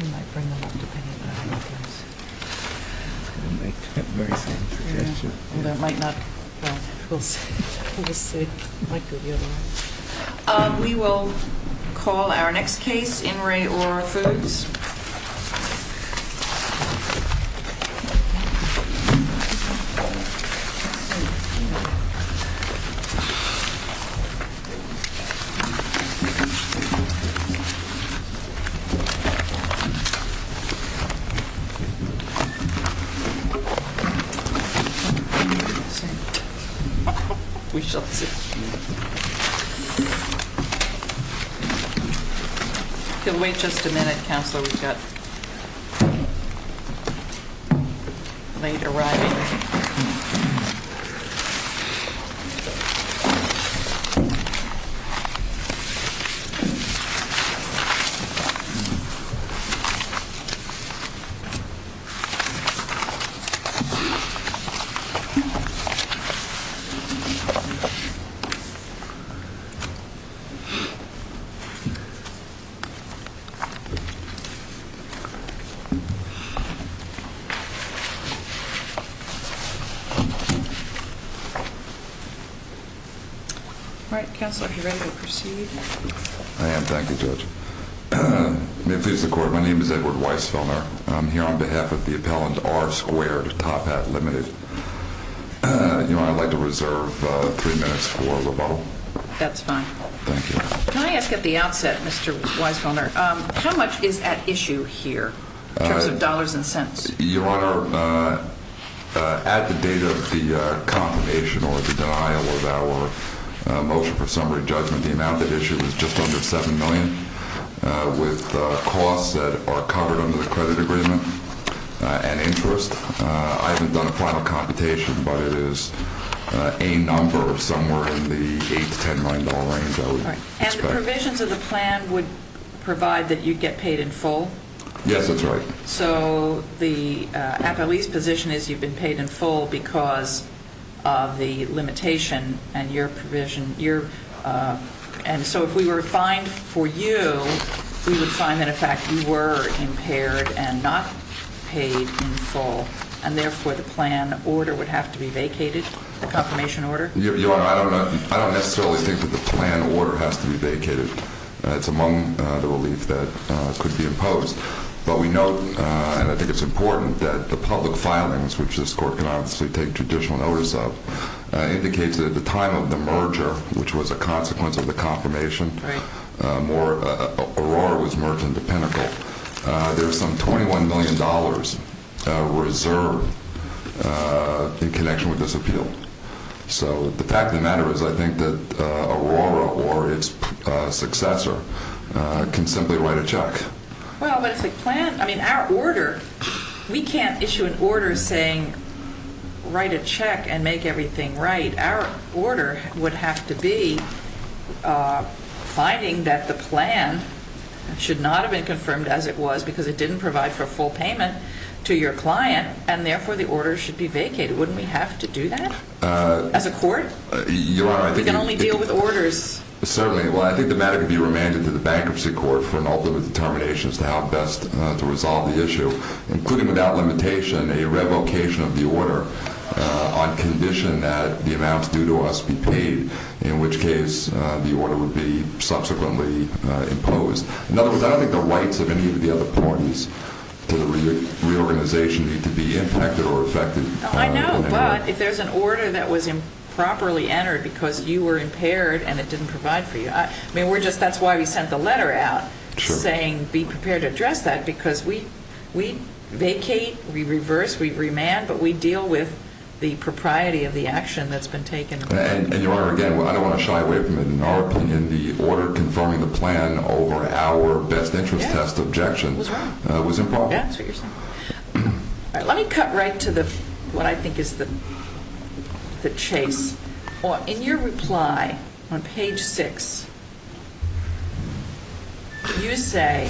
In light of that, we will call our next case, In-Rae O'Rourke-Foods. We shall see. If you'll wait just a minute, Counselor, we've got a late arriving. All right, Counselor, if you're ready to proceed. I am. Thank you, Judge. May it please the Court, my name is Edward Weisfelder. I'm here on behalf of the appellant R. Squared, Top Hat Limited. Your Honor, I'd like to reserve three minutes for rebuttal. That's fine. Thank you. Can I ask at the outset, Mr. Weisfelder, how much is at issue here in terms of dollars and cents? Your Honor, at the date of the confirmation or the denial of our motion for summary judgment, the amount at issue is just under $7 million, with costs that are covered under the credit agreement and interest. I haven't done a final computation, but it is a number somewhere in the $8 to $10 million range, I would expect. And the provisions of the plan would provide that you get paid in full? Yes, that's right. So the appellee's position is you've been paid in full because of the limitation and your provision. And so if we were to find for you, we would find that, in fact, you were impaired and not paid in full, and therefore the plan order would have to be vacated, the confirmation order? Your Honor, I don't necessarily think that the plan order has to be vacated. It's among the relief that could be imposed. But we note, and I think it's important, that the public filings, which this court can obviously take judicial notice of, indicates that at the time of the merger, which was a consequence of the confirmation, or Aurora was merged into Pinnacle, there was some $21 million reserved in connection with this appeal. So the fact of the matter is I think that Aurora or its successor can simply write a check. Well, but it's a plan. I mean, our order, we can't issue an order saying write a check and make everything right. Our order would have to be finding that the plan should not have been confirmed as it was because it didn't provide for a full payment to your client, and therefore the order should be vacated. Wouldn't we have to do that as a court? Your Honor, I think you can only deal with orders. Certainly. Well, I think the matter could be remanded to the bankruptcy court for an ultimate determination as to how best to resolve the issue, including without limitation a revocation of the order on condition that the amounts due to us be paid, in which case the order would be subsequently imposed. In other words, I don't think the rights of any of the other parties to the reorganization need to be impacted or affected. I know, but if there's an order that was improperly entered because you were impaired and it didn't provide for you, I mean, that's why we sent the letter out saying be prepared to address that because we vacate, we reverse, we remand, but we deal with the propriety of the action that's been taken. And, Your Honor, again, I don't want to shy away from it. In our opinion, the order confirming the plan over our best interest test objection was improper. That's what you're saying. Let me cut right to what I think is the chase. In your reply on page 6, you say,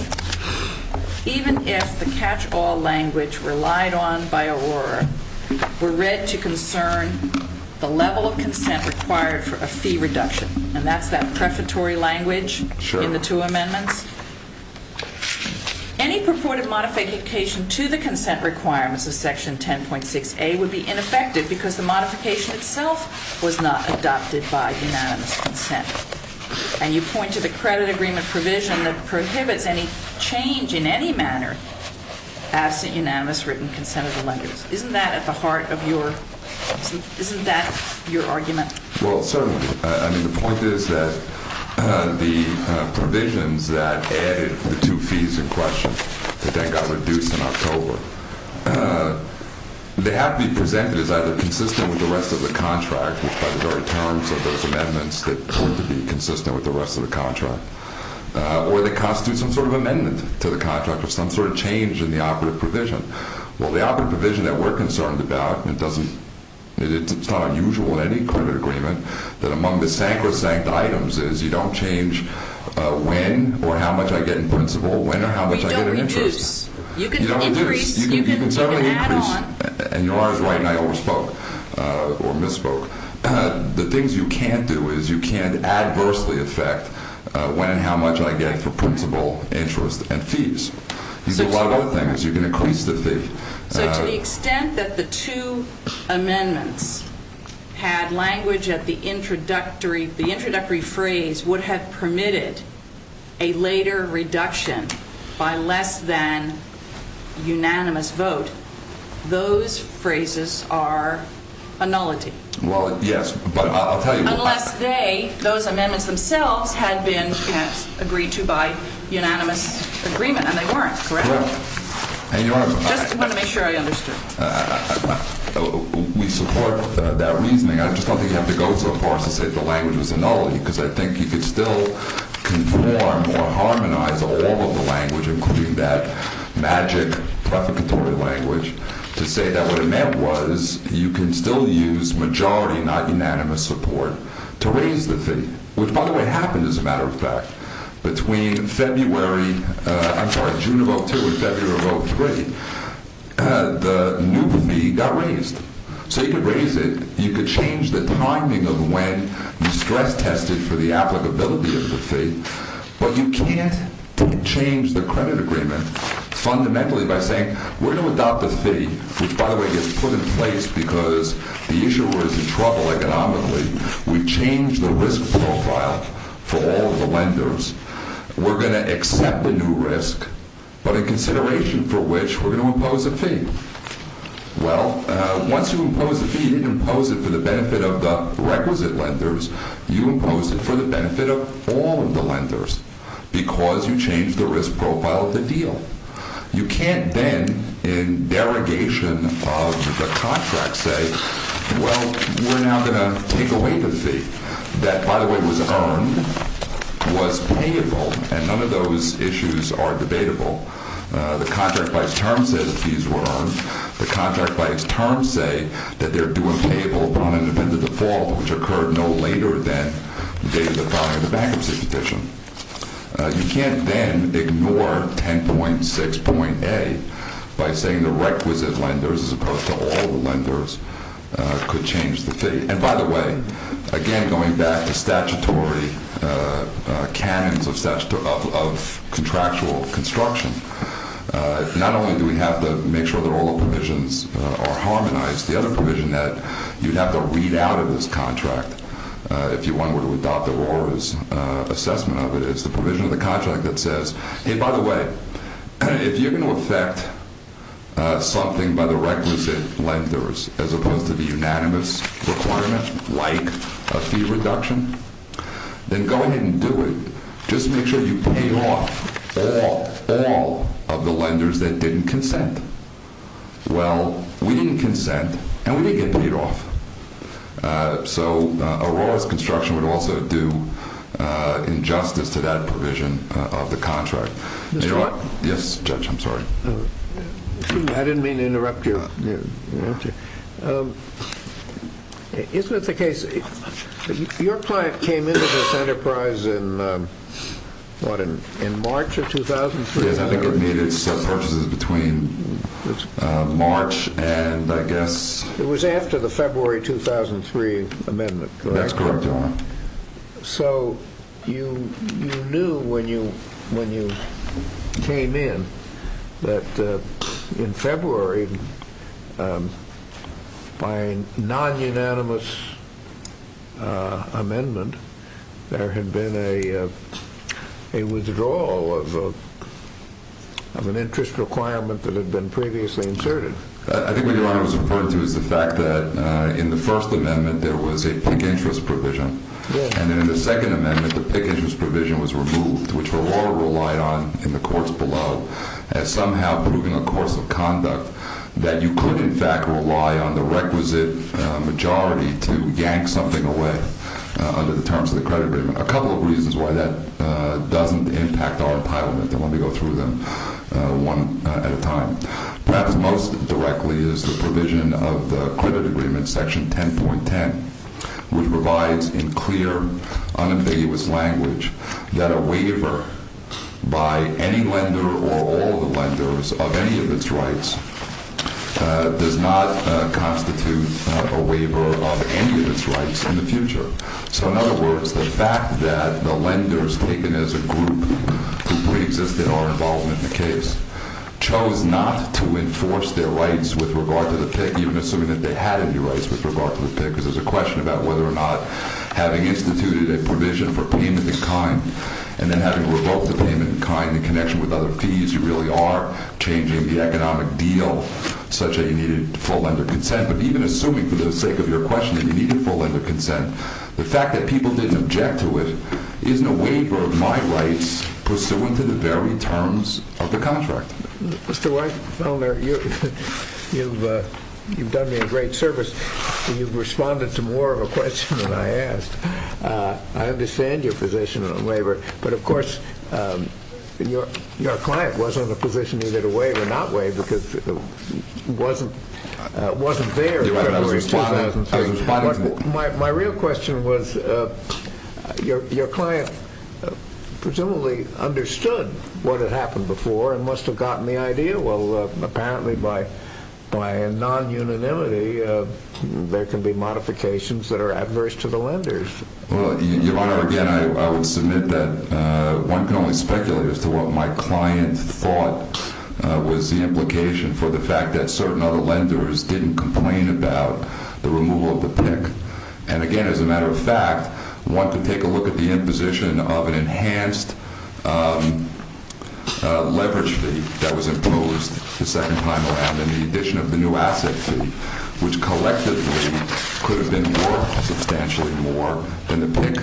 even if the catch-all language relied on by Aurora were read to concern the level of consent required for a fee reduction, and that's that prefatory language in the two amendments, any purported modification to the consent requirements of Section 10.6a would be ineffective because the modification itself was not adopted by unanimous consent. And you point to the credit agreement provision that prohibits any change in any manner absent unanimous written consent of the lenders. Isn't that at the heart of your argument? Well, certainly. I mean, the point is that the provisions that added the two fees in question, that then got reduced in October, they have to be presented as either consistent with the rest of the contract, which by the very terms of those amendments, they're going to be consistent with the rest of the contract, or they constitute some sort of amendment to the contract or some sort of change in the operative provision. Well, the operative provision that we're concerned about, and it's not unusual in any credit agreement, that among the sacrosanct items is you don't change when or how much I get in principal, when or how much I get in interest. You don't reduce. You can increase. You can certainly increase. You can add on. And you're always right, and I overspoke or misspoke. The things you can't do is you can't adversely affect when and how much I get for principal, interest, and fees. These are a lot of other things. You can increase the fee. So to the extent that the two amendments had language at the introductory phrase would have permitted a later reduction by less than unanimous vote, those phrases are annullity. Well, yes, but I'll tell you what happened. Unless they, those amendments themselves, had been agreed to by unanimous agreement, and they weren't, correct? I just want to make sure I understood. We support that reasoning. I just don't think you have to go so far as to say the language was annullity because I think you could still conform or harmonize all of the language, including that magic prefacatory language, to say that what it meant was you can still use majority, not unanimous support, to raise the fee, which, by the way, happened as a matter of fact. Between February, I'm sorry, June of 2002 and February of 2003, the new fee got raised. So you could raise it. You could change the timing of when you stress tested for the applicability of the fee, but you can't change the credit agreement fundamentally by saying, we're going to adopt the fee, which, by the way, gets put in place because the issuer was in trouble economically. We changed the risk profile for all of the lenders. We're going to accept the new risk, but in consideration for which, we're going to impose a fee. Well, once you impose a fee, you didn't impose it for the benefit of the requisite lenders. You imposed it for the benefit of all of the lenders because you changed the risk profile of the deal. You can't then, in derogation of the contract, say, well, we're now going to take away the fee that, by the way, was earned, was payable, and none of those issues are debatable. The contract by its terms says the fees were earned. The contract by its terms say that they're due and payable upon independent default, which occurred no later than the day of the filing of the bankruptcy petition. You can't then ignore 10.6.A by saying the requisite lenders as opposed to all the lenders could change the fee. And by the way, again, going back to statutory canons of contractual construction, not only do we have to make sure that all the provisions are harmonized, the other provision that you'd have to read out of this contract if you wanted to adopt Aurora's assessment of it is the provision of the contract that says, hey, by the way, if you're going to affect something by the requisite lenders as opposed to the unanimous requirement, like a fee reduction, then go ahead and do it. Just make sure you pay off all of the lenders that didn't consent. Well, we didn't consent, and we didn't get paid off. So Aurora's construction would also do injustice to that provision of the contract. Yes, Judge, I'm sorry. I didn't mean to interrupt you. Isn't it the case that your client came into this enterprise in March of 2003? Yes, I think it made its purchases between March and I guess... It was after the February 2003 amendment, correct? That's correct, Your Honor. So you knew when you came in that in February, by a non-unanimous amendment, there had been a withdrawal of an interest requirement that had been previously inserted. I think what Your Honor was referring to is the fact that in the first amendment there was a pink interest provision, and in the second amendment the pink interest provision was removed, which Aurora relied on in the courts below as somehow proving a course of conduct that you could, in fact, rely on the requisite majority to yank something away under the terms of the credit agreement. A couple of reasons why that doesn't impact our entitlement, and let me go through them one at a time. Perhaps most directly is the provision of the credit agreement, Section 10.10, which provides in clear, unambiguous language that a waiver by any lender or all the lenders of any of its rights does not constitute a waiver of any of its rights in the future. So, in other words, the fact that the lenders, taken as a group who pre-existed our involvement in the case, with regard to the pink, because there's a question about whether or not having instituted a provision for payment in kind and then having to revoke the payment in kind in connection with other fees, you really are changing the economic deal such that you needed full lender consent. But even assuming, for the sake of your question, that you needed full lender consent, the fact that people didn't object to it isn't a waiver of my rights pursuant to the very terms of the contract. Mr. Weinfelder, you've done me a great service. You've responded to more of a question than I asked. I understand your position on the waiver, but of course your client wasn't in a position either to waive or not waive because it wasn't there. My real question was, your client presumably understood what had happened before and must have gotten the idea. Well, apparently by a non-unanimity, there can be modifications that are adverse to the lenders. Your Honor, again, I would submit that one can only speculate as to what my client thought was the implication for the fact that certain other lenders didn't complain about the removal of the pink. And again, as a matter of fact, one can take a look at the imposition of an enhanced leverage fee that was imposed the second time around in the addition of the new asset fee, which collectively could have been more, substantially more than the pink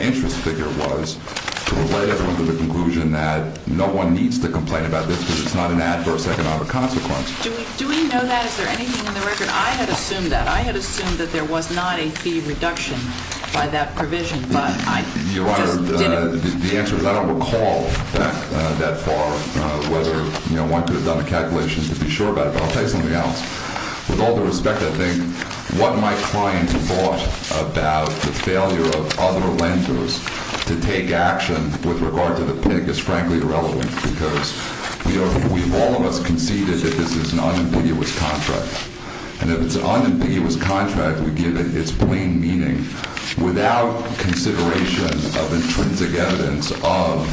interest figure was to lay everyone to the conclusion that no one needs to complain about this because it's not an adverse economic consequence. Do we know that? Is there anything in the record? I had assumed that. There was not a fee reduction by that provision, but I just didn't. Your Honor, the answer is I don't recall that far, whether one could have done the calculations to be sure about it, but I'll tell you something else. With all due respect, I think what my client thought about the failure of other lenders to take action with regard to the pink is frankly irrelevant because all of us conceded that this is an unambiguous contract. And if it's an unambiguous contract, we give it its plain meaning without consideration of intrinsic evidence of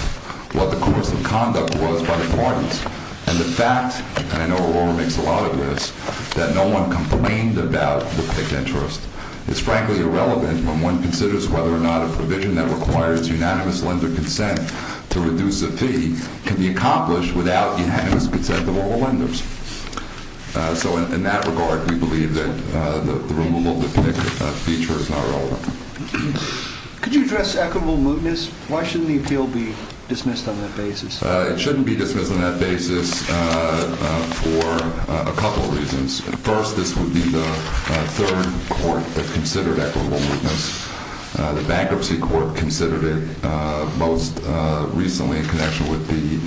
what the course of conduct was by the parties. And the fact, and I know Aurora makes a lot of this, that no one complained about the pink interest is frankly irrelevant when one considers whether or not a provision that requires unanimous lender consent to reduce a fee can be accomplished without unanimous consent of all lenders. So in that regard, we believe that the removal of the pink feature is not relevant. Could you address equitable mootness? Why shouldn't the appeal be dismissed on that basis? It shouldn't be dismissed on that basis for a couple of reasons. First, this would be the third court that considered equitable mootness. The bankruptcy court considered it most recently in connection with the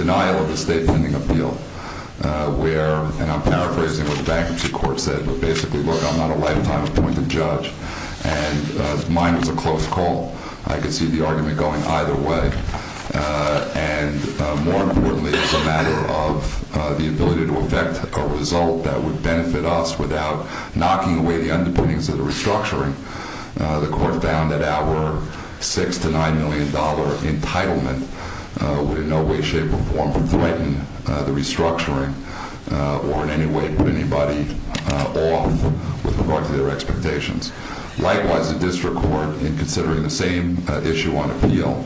denial of the state pending appeal where, and I'm paraphrasing what the bankruptcy court said, but basically, look, I'm not a lifetime appointed judge and mine was a close call. I could see the argument going either way. And more importantly, it's a matter of the ability to effect a result that would benefit us without knocking away the underpinnings of the restructuring. The court found that our $6 million to $9 million entitlement would in no way, shape, or form threaten the restructuring or in any way put anybody off with regard to their expectations. Likewise, the district court, in considering the same issue on appeal,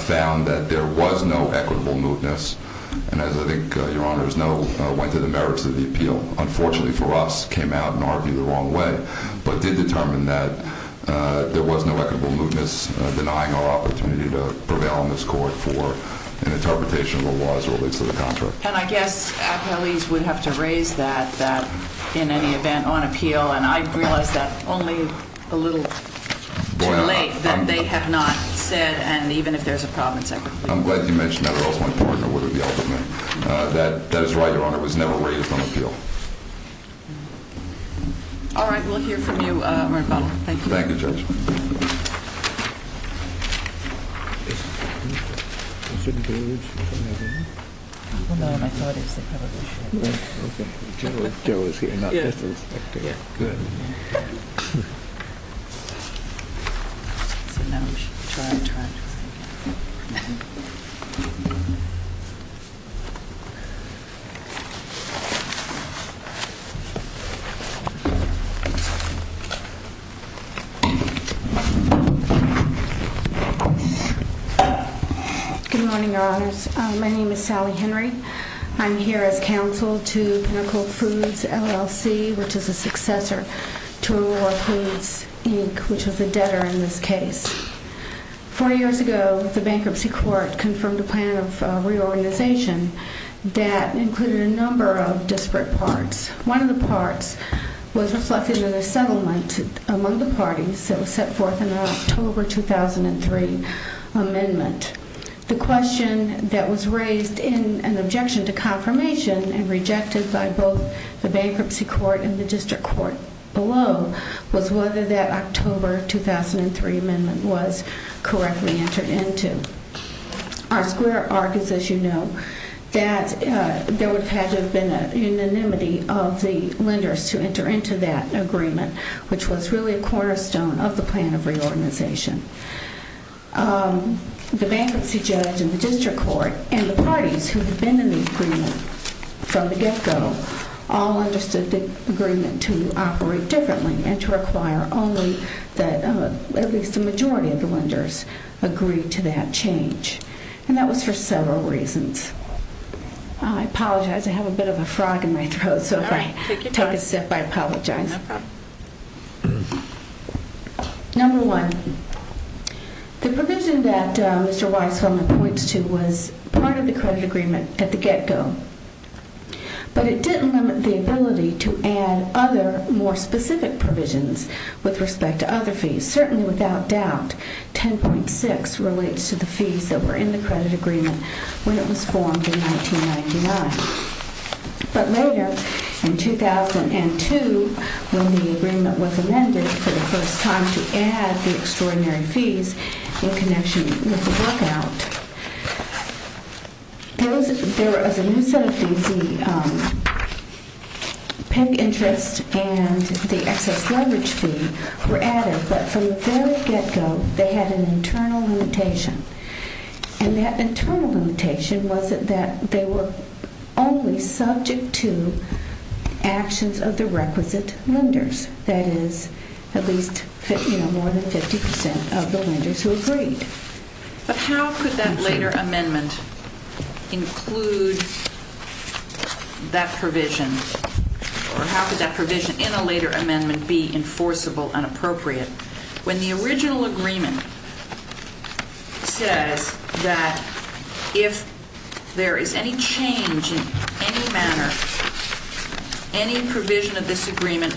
found that there was no equitable mootness and, as I think your honors know, went to the merits of the appeal. Unfortunately for us, came out and argued the wrong way, but did determine that there was no equitable mootness denying our opportunity to prevail in this court for an interpretation of the laws related to the contract. And I guess appellees would have to raise that in any event on appeal, and I realize that only a little too late that they have not said, and even if there's a problem, separately. I'm glad you mentioned that, or else my partner would have yelled at me. That is right, your honor. It was never raised on appeal. All right. We'll hear from you right about now. Thank you. Good morning, your honors. My name is Sally Henry. I'm here as counsel to Pinnacle Foods, LLC, which is a successor to Aurora Foods, Inc., which was a debtor in this case. Four years ago, the bankruptcy court confirmed a plan of reorganization that included a number of disparate parts. One of the parts was reflected in a settlement among the parties that was set forth in the October 2003 amendment. The question that was raised in an objection to confirmation and rejected by both the bankruptcy court and the district court below was whether that October 2003 amendment was correctly entered into. Our square argues, as you know, that there would have had to have been a unanimity of the lenders to enter into that agreement, which was really a cornerstone of the plan of reorganization. The bankruptcy judge and the district court and the parties who had been in the agreement from the get-go all understood the agreement to operate differently and to require only that at least the majority of the lenders agree to that change, and that was for several reasons. I apologize. I have a bit of a frog in my throat, so if I take a sip, I apologize. Number one, the provision that Mr. Weisfeldman points to was part of the credit agreement at the get-go, but it didn't limit the ability to add other more specific provisions with respect to other fees. Certainly, without doubt, 10.6 relates to the fees that were in the credit agreement when it was formed in 1999. But later, in 2002, when the agreement was amended for the first time to add the extraordinary fees in connection with the work-out, there was a new set of fees. The pen interest and the excess leverage fee were added, but from the very get-go, they had an internal limitation, and that internal limitation was that they were only subject to actions of the requisite lenders, that is, at least more than 50% of the lenders who agreed. But how could that later amendment include that provision, or how could that provision in a later amendment be enforceable and appropriate when the original agreement says that if there is any change in any manner, any provision of this agreement,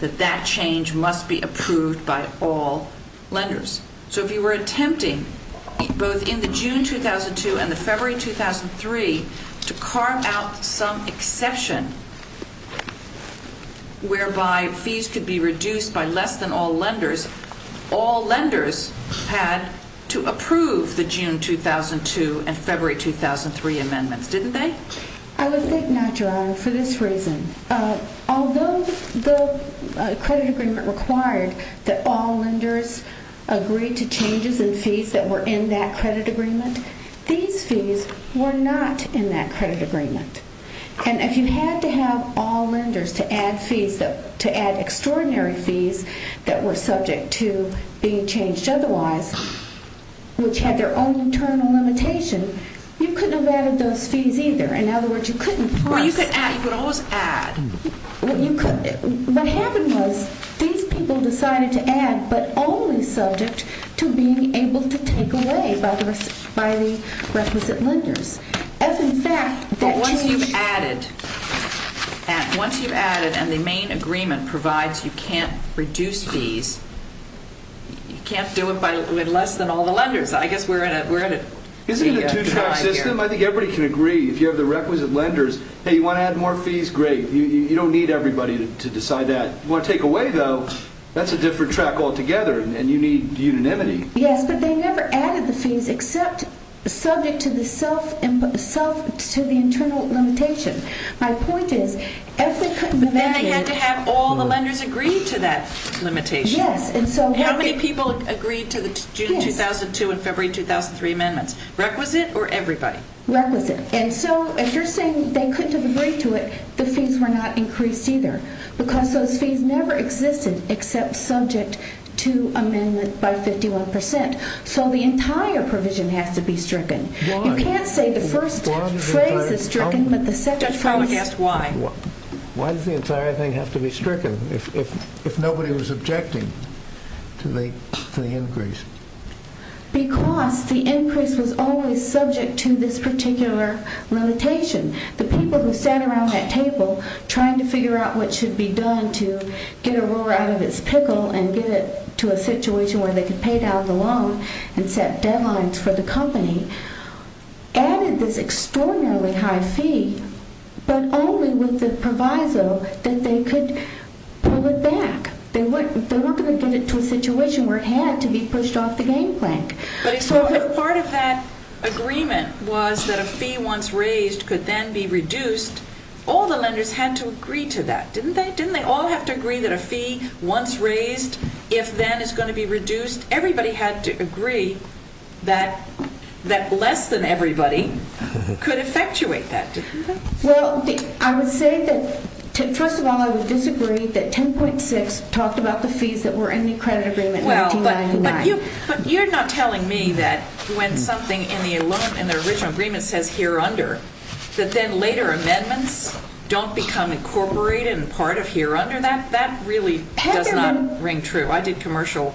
that that change must be approved by all lenders? So if you were attempting, both in the June 2002 and the February 2003, to carve out some exception whereby fees could be reduced by less than all lenders, all lenders had to approve the June 2002 and February 2003 amendments, didn't they? I would think not, Your Honor, for this reason. Although the credit agreement required that all lenders agree to changes in fees that were in that credit agreement, these fees were not in that credit agreement. And if you had to have all lenders to add fees, to add extraordinary fees that were subject to being changed otherwise, which had their own internal limitation, you couldn't have added those fees either. In other words, you couldn't plus. Well, you could always add. What happened was these people decided to add, but only subject to being able to take away by the requisite lenders. But once you've added, and the main agreement provides you can't reduce fees, you can't do it with less than all the lenders. Isn't it a two-track system? I think everybody can agree. If you have the requisite lenders, hey, you want to add more fees, great. You don't need everybody to decide that. You want to take away, though, that's a different track altogether, and you need unanimity. Yes, but they never added the fees except subject to the internal limitation. My point is, if they couldn't... But then they had to have all the lenders agree to that limitation. Yes. How many people agreed to the June 2002 and February 2003 amendments? Requisite or everybody? Requisite. And so if you're saying they couldn't have agreed to it, the fees were not increased either because those fees never existed except subject to amendment by 51%. So the entire provision has to be stricken. Why? You can't say the first phrase is stricken, but the second phrase... Judge Palma asked why. Why does the entire thing have to be stricken if nobody was objecting to the increase? Because the increase was always subject to this particular limitation. The people who sat around that table trying to figure out what should be done to get Aurora out of its pickle and get it to a situation where they could pay down the loan and set deadlines for the company added this extraordinarily high fee but only with the proviso that they could pull it back. They weren't going to get it to a situation where it had to be pushed off the game plan. But if part of that agreement was that a fee once raised could then be reduced, all the lenders had to agree to that, didn't they? Didn't they all have to agree that a fee once raised, if then, is going to be reduced? Everybody had to agree that less than everybody could effectuate that, didn't they? Well, I would say that... First of all, I would disagree that 10.6 talked about the fees that were in the credit agreement in 1899. But you're not telling me that when something in the original agreement says here under, that then later amendments don't become incorporated and part of here under. That really does not ring true. I did commercial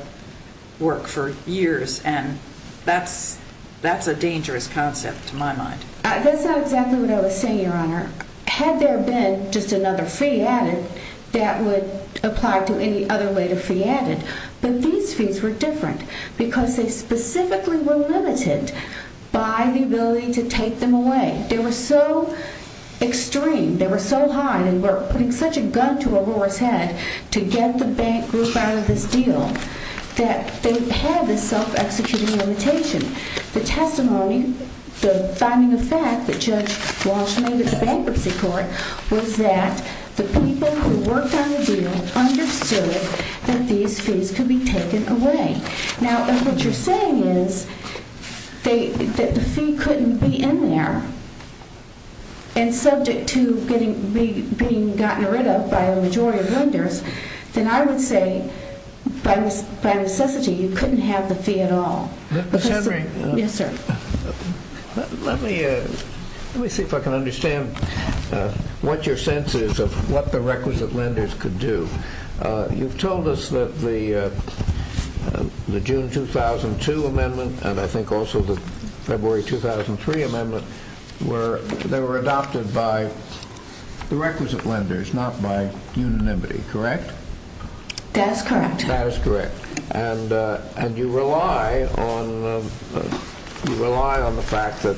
work for years and that's a dangerous concept to my mind. That's not exactly what I was saying, Your Honor. Had there been just another fee added that would apply to any other way the fee added. But these fees were different because they specifically were limited by the ability to take them away. They were so extreme, they were so high, they were putting such a gun to Aurora's head to get the bank group out of this deal that they had this self-executing limitation. The testimony, the finding of fact that Judge Walsh made at the bankruptcy court was that the people who worked on the deal understood that these fees could be taken away. Now, if what you're saying is that the fee couldn't be in there and subject to being gotten rid of by a majority of lenders, then I would say by necessity you couldn't have the fee at all. Ms. Henry. Yes, sir. Let me see if I can understand what your sense is of what the requisite lenders could do. You've told us that the June 2002 amendment and I think also the February 2003 amendment they were adopted by the requisite lenders not by unanimity, correct? That is correct. And you rely on the fact that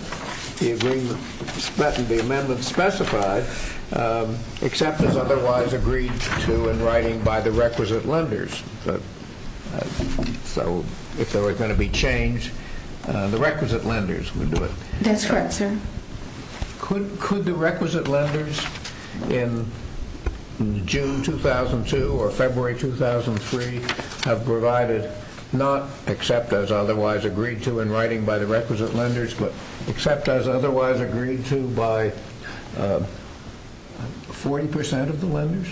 the amendment specified except as otherwise agreed to in writing by the requisite lenders. So if there were going to be change, the requisite lenders would do it. That's correct, sir. Could the requisite lenders in June 2002 or February 2003 have provided not except as otherwise agreed to in writing by the requisite lenders but except as otherwise agreed to by 40% of the lenders?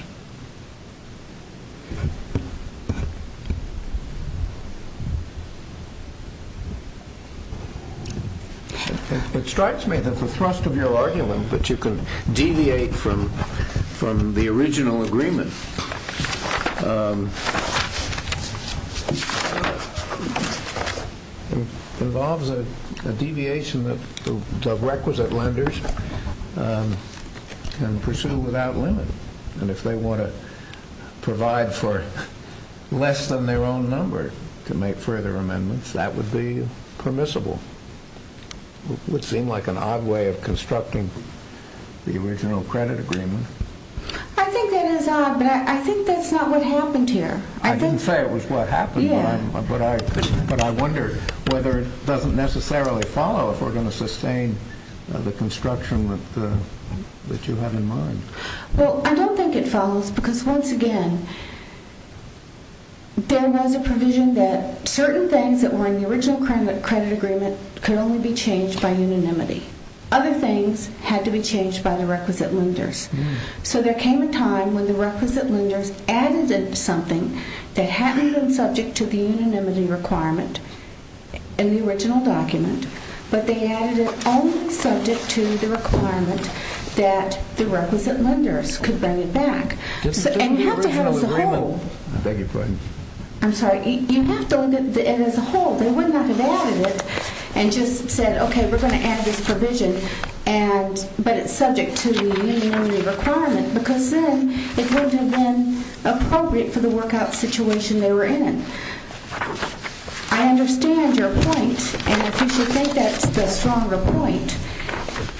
It strikes me that the thrust of your argument that you can deviate from the original agreement involves a deviation that the requisite lenders can pursue without limit. And if they want to provide for less than their own number to make further amendments, that would be permissible. It would seem like an odd way of constructing the original credit agreement. I think that is odd, but I think that's not what happened here. I didn't say it was what happened, but I wonder whether it doesn't necessarily follow if we're going to sustain the construction that you have in mind. Well, I don't think it follows because, once again, there was a provision that certain things that were in the original credit agreement could only be changed by unanimity. Other things had to be changed by the requisite lenders. So there came a time when the requisite lenders added something that hadn't been subject to the unanimity requirement in the original document, but they added it only subject to the requirement that the requisite lenders could bring it back. And you have to have it as a whole. I beg your pardon? I'm sorry. You have to have it as a whole. They would not have added it and just said, okay, we're going to add this provision, but it's subject to the unanimity requirement because then it wouldn't have been appropriate for the workout situation they were in. I understand your point, and if you should think that's the stronger point,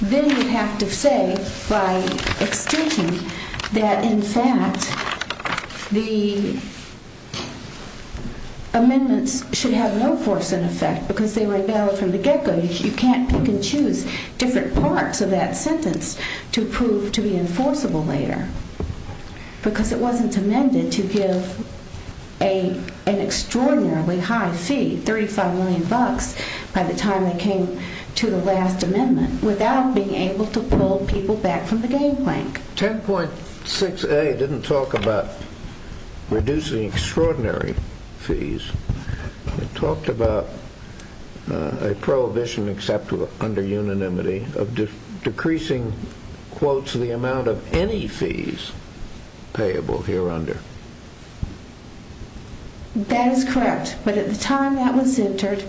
then you have to say, by extension, that, in fact, the amendments should have no force in effect because they were invalid from the get-go. You can't pick and choose different parts of that sentence to prove to be enforceable later because it wasn't amended to give an extraordinarily high fee, $35 million, by the time they came to the last amendment without being able to pull people back from the game plank. 10.6a didn't talk about reducing extraordinary fees. It talked about a prohibition except under unanimity of decreasing, quotes, the amount of any fees payable here under. That is correct, but at the time that was entered,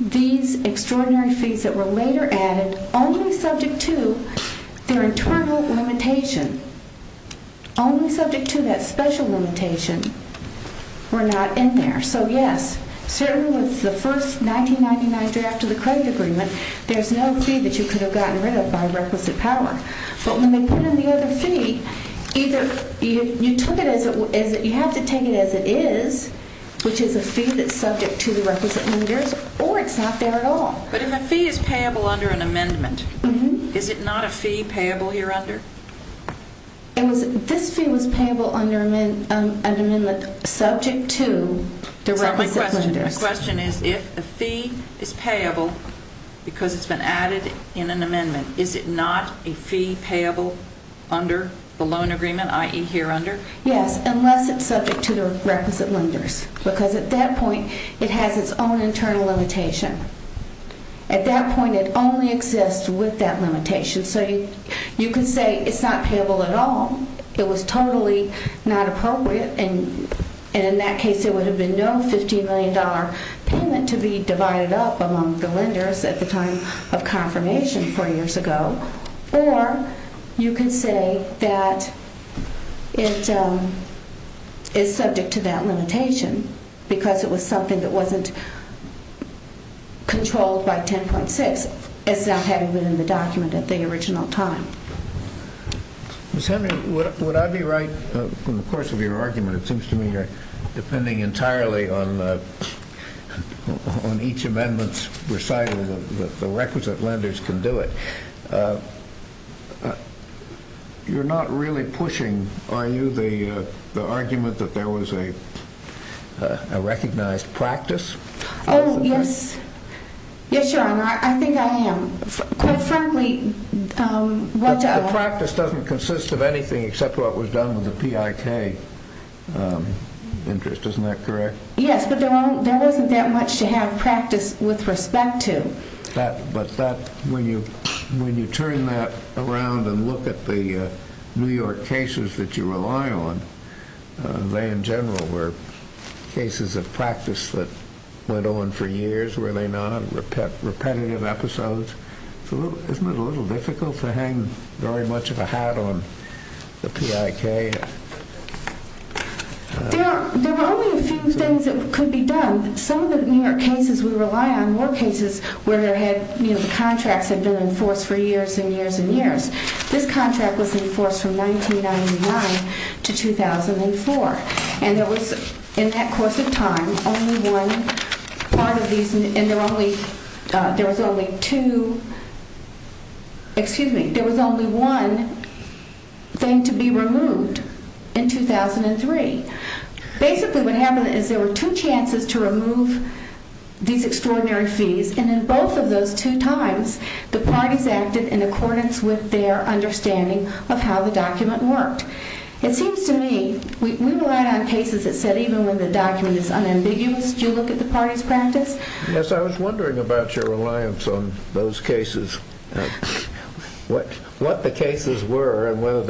these extraordinary fees that were later added, only subject to their internal limitation, only subject to that special limitation, were not in there. So, yes, certainly with the first 1999 draft of the credit agreement, there's no fee that you could have gotten rid of by requisite power. But when they put in the other fee, you have to take it as it is, which is a fee that's subject to the requisite limiters, or it's not there at all. But if a fee is payable under an amendment, is it not a fee payable here under? This fee was payable under an amendment subject to the requisite limiters. So my question is, if a fee is payable because it's been added in an amendment, is it not a fee payable under the loan agreement, i.e. here under? Yes, unless it's subject to the requisite limiters. Because at that point, it has its own internal limitation. At that point, it only exists with that limitation. So you can say it's not payable at all. It was totally not appropriate. And in that case, there would have been no $15 million payment to be divided up among the lenders at the time of confirmation 40 years ago. Or you can say that it is subject to that limitation because it was something that wasn't controlled by 10.6. It's not having been in the document at the original time. Ms. Henry, would I be right? From the course of your argument, it seems to me you're depending entirely on each amendment's recital that the requisite lenders can do it. You're not really pushing, are you, the argument that there was a recognized practice? Yes, Your Honor. I think I am. The practice doesn't consist of anything except what was done with the PIK interest. Isn't that correct? Yes, but there wasn't that much to have practice with respect to. But when you turn that around and look at the New York cases that you rely on, they in general were cases of practice that went on for years, were they not? Repetitive episodes? Isn't it a little difficult to hang very much of a hat on the PIK? There were only a few things that could be done. Some of the New York cases we rely on were cases where the contracts had been enforced for years and years and years. This contract was enforced from 1999 to 2004. And there was, in that course of time, only one part of these, and there was only two, excuse me, there was only one thing to be removed in 2003. Basically what happened is there were two chances to remove these extraordinary fees, and in both of those two times the parties acted in accordance with their understanding of how the document worked. It seems to me, we rely on cases that said even when the document is unambiguous, do you look at the parties' practice? Yes, I was wondering about your reliance on those cases. What the cases were and whether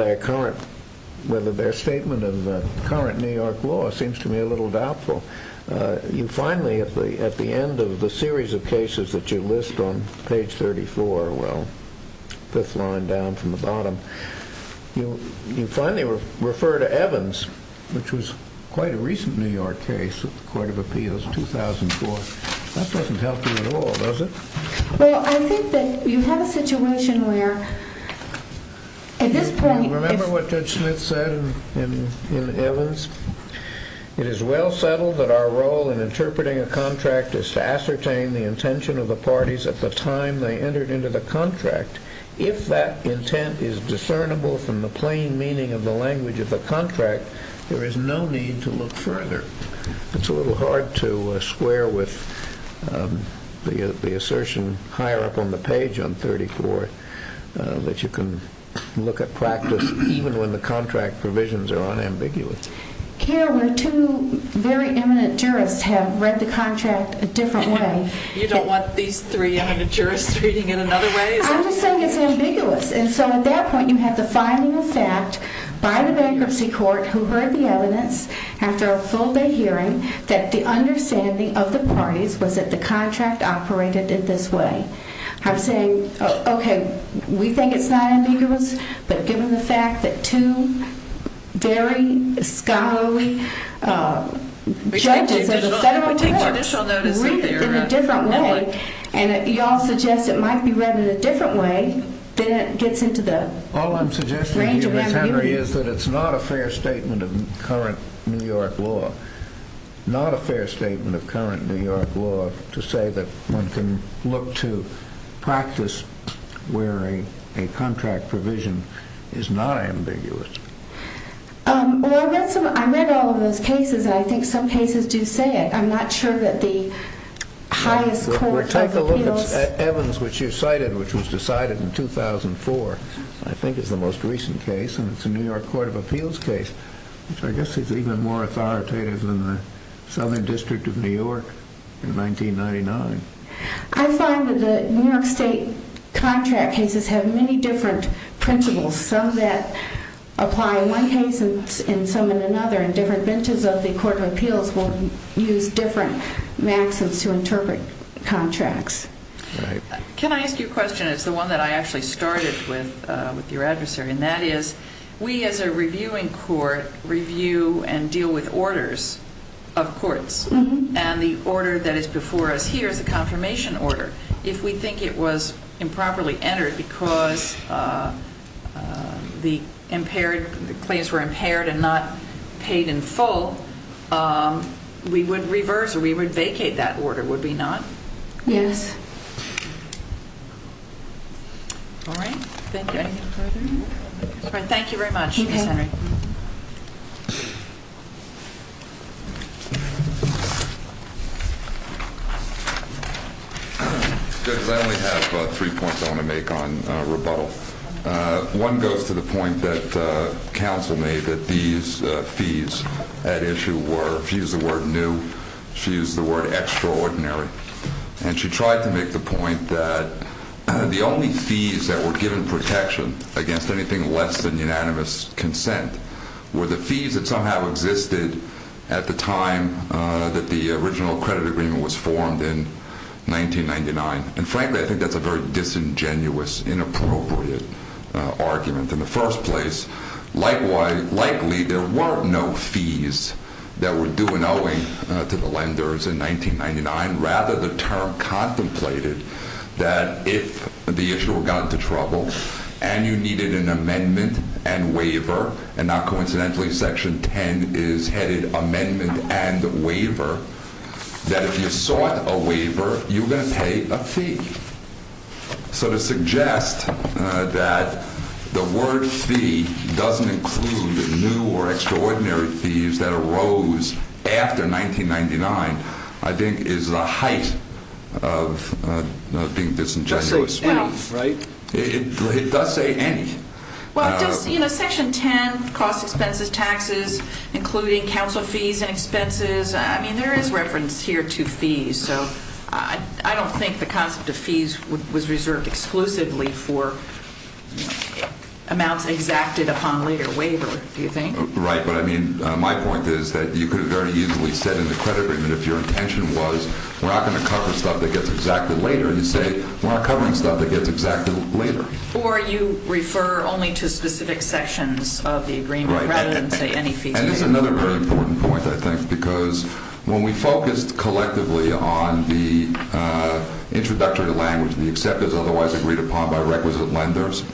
their statement of the current New York law seems to me a little doubtful. You finally, at the end of the series of cases that you list on page 34, well, fifth line down from the bottom, you finally refer to Evans, which was quite a recent New York case at the Court of Appeals in 2004. That doesn't help you at all, does it? Well, I think that you have a situation where at this point... Remember what Judge Smith said in Evans? It is well settled that our role in interpreting a contract is to ascertain the intention of the parties at the time they entered into the contract. If that intent is discernible from the plain meaning of the language of the contract, there is no need to look further. It's a little hard to square with the assertion higher up on the page on 34 that you can look at practice even when the contract provisions are unambiguous. Carol, two very eminent jurists have read the contract a different way. You don't want these three eminent jurists reading it another way? I'm just saying it's ambiguous. And so at that point you have the finding of fact by the bankruptcy court who heard the evidence after a full-day hearing that the understanding of the parties was that the contract operated in this way. I'm saying, okay, we think it's not ambiguous, but given the fact that two very scholarly judges at a federal court read it in a different way and you all suggest it might be read in a different way, then it gets into the range of ambiguity. All I'm suggesting here, Ms. Henry, is that it's not a fair statement of current New York law. Not a fair statement of current New York law to say that one can look to practice where a contract provision is not ambiguous. Well, I read all of those cases and I think some cases do say it. I'm not sure that the highest court of appeals... Well, take a look at Evans, which you cited, which was decided in 2004, I think is the most recent case, and it's a New York court of appeals case, which I guess is even more authoritative than the Southern District of New York in 1999. I find that the New York state contract cases have many different principles, some that apply in one case and some in another, and different benches of the court of appeals will use different maxims to interpret contracts. Can I ask you a question? It's the one that I actually started with your adversary, and that is we as a reviewing court review and deal with orders of courts, and the order that is before us here is a confirmation order. If we think it was improperly entered because the claims were impaired and not paid in full, we would reverse or we would vacate that order, would we not? Yes. All right, thank you. Thank you very much. I only have three points I want to make on rebuttal. One goes to the point that counsel made that these fees at issue were, if you use the word new, if you use the word extraordinary, and she tried to make the point that the only fees that were given protection against anything less than unanimous consent were the fees that somehow existed at the time that the original credit agreement was formed in 1999, and frankly, I think that's a very disingenuous, inappropriate argument in the first place. Likely, there were no fees that were due and owing to the lenders in 1999. Rather, the term contemplated that if the issue got into trouble and you needed an amendment and waiver, and not coincidentally, section 10 is headed amendment and waiver, that if you sought a waiver, you were going to pay a fee. So to suggest that the word fee doesn't include new or extraordinary fees that arose after 1999, I think is the height of being disingenuous. It does say any. Well, does section 10, cost expenses, taxes, including counsel fees and expenses, I mean, there is reference here to fees, so I don't think the concept of fees was reserved exclusively for amounts exacted upon later waiver, do you think? Right, but I mean, my point is that you could have very easily said in the credit agreement if your intention was we're not going to cover stuff that gets exacted later, and you say we're not covering stuff that gets exacted later. Or you refer only to specific sections of the agreement rather than say any fees. And this is another very important point, I think, because when we focused collectively on the introductory language, the acceptors otherwise agreed upon by requisite lenders,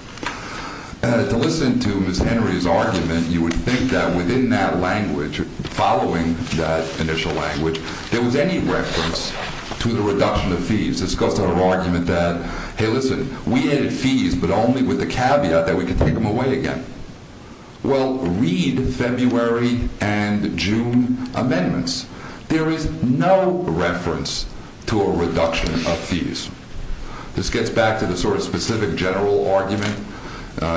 to listen to Ms. Henry's argument, you would think that within that language, following that initial language, there was any reference to the reduction of fees. Ms. Henry's discussed her argument that, hey, listen, we added fees, but only with the caveat that we could take them away again. Well, read February and June amendments. There is no reference to a reduction of fees. This gets back to the sort of specific general argument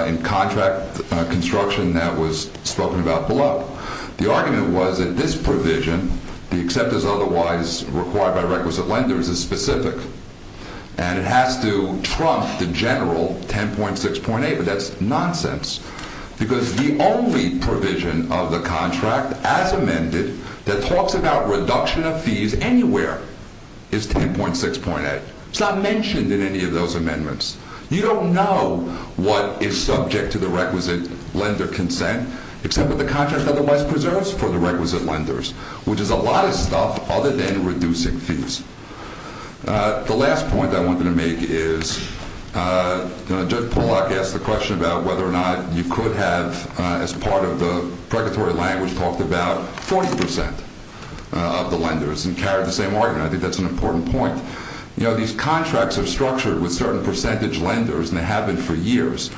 in contract construction that was spoken about below. The argument was that this provision, the acceptors otherwise required by requisite lenders, is specific. And it has to trump the general 10.6.8, but that's nonsense, because the only provision of the contract as amended that talks about reduction of fees anywhere is 10.6.8. It's not mentioned in any of those amendments. You don't know what is subject to the requisite lender consent, except what the contract otherwise preserves for the requisite lenders, which is a lot of stuff other than reducing fees. The last point I wanted to make is Judge Pollack asked the question about whether or not you could have, as part of the pregatory language, talked about 40% of the lenders and carried the same argument. I think that's an important point. You know, these contracts are structured with certain percentage lenders, and they have been for years.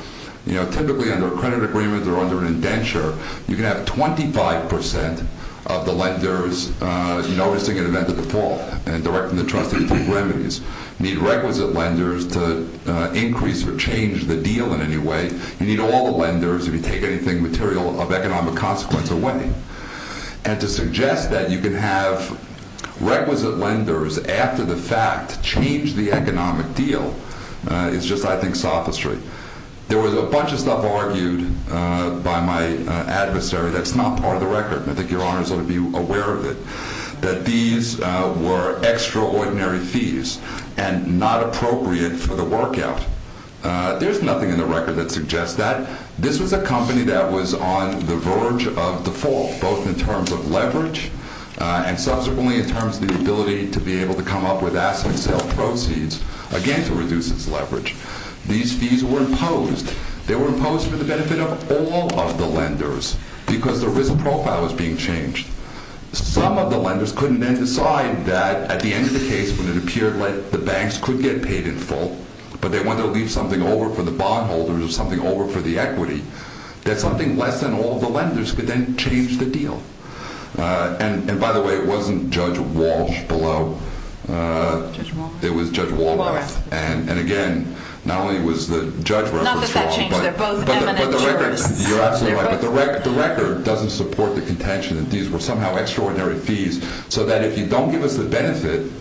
You know, typically under a credit agreement or under an indenture, you can have 25% of the lenders noticing an event of default and directing the trustee to take remedies. You need requisite lenders to increase or change the deal in any way. You need all the lenders if you take anything material of economic consequence away. And to suggest that you can have requisite lenders after the fact change the economic deal is just, I think, sophistry. There was a bunch of stuff argued by my adversary that's not part of the record, and I think Your Honors ought to be aware of it, that these were extraordinary fees and not appropriate for the work out. There's nothing in the record that suggests that. This was a company that was on the verge of default, both in terms of leverage and subsequently in terms of the ability to be able to come up with asset sale proceeds, again, to reduce its leverage. These fees were imposed. They were imposed for the benefit of all of the lenders because the risk profile was being changed. Some of the lenders couldn't then decide that at the end of the case, when it appeared that the banks could get paid in full, but they wanted to leave something over for the bondholders or something over for the equity, that something less than all of the lenders could then change the deal. And by the way, it wasn't Judge Walsh below. It was Judge Walras. And again, not only was the judge reference wrong, but the record doesn't support the contention that these were somehow extraordinary fees, so that if you don't give us the benefit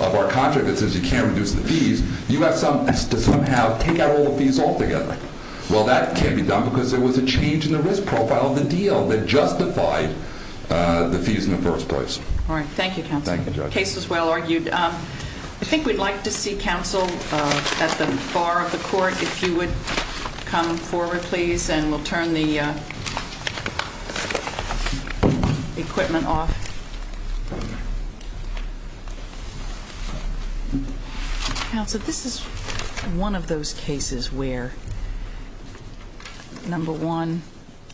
of our contract that says you can't reduce the fees, you have to somehow take out all the fees altogether. Well, that can't be done because there was a change in the risk profile of the deal that justified the fees in the first place. All right. Thank you, Counselor. Thank you, Judge. The case was well argued. I think we'd like to see Counsel at the bar of the court, if you would come forward, please, and we'll turn the equipment off. Counsel, this is one of those cases where, number one,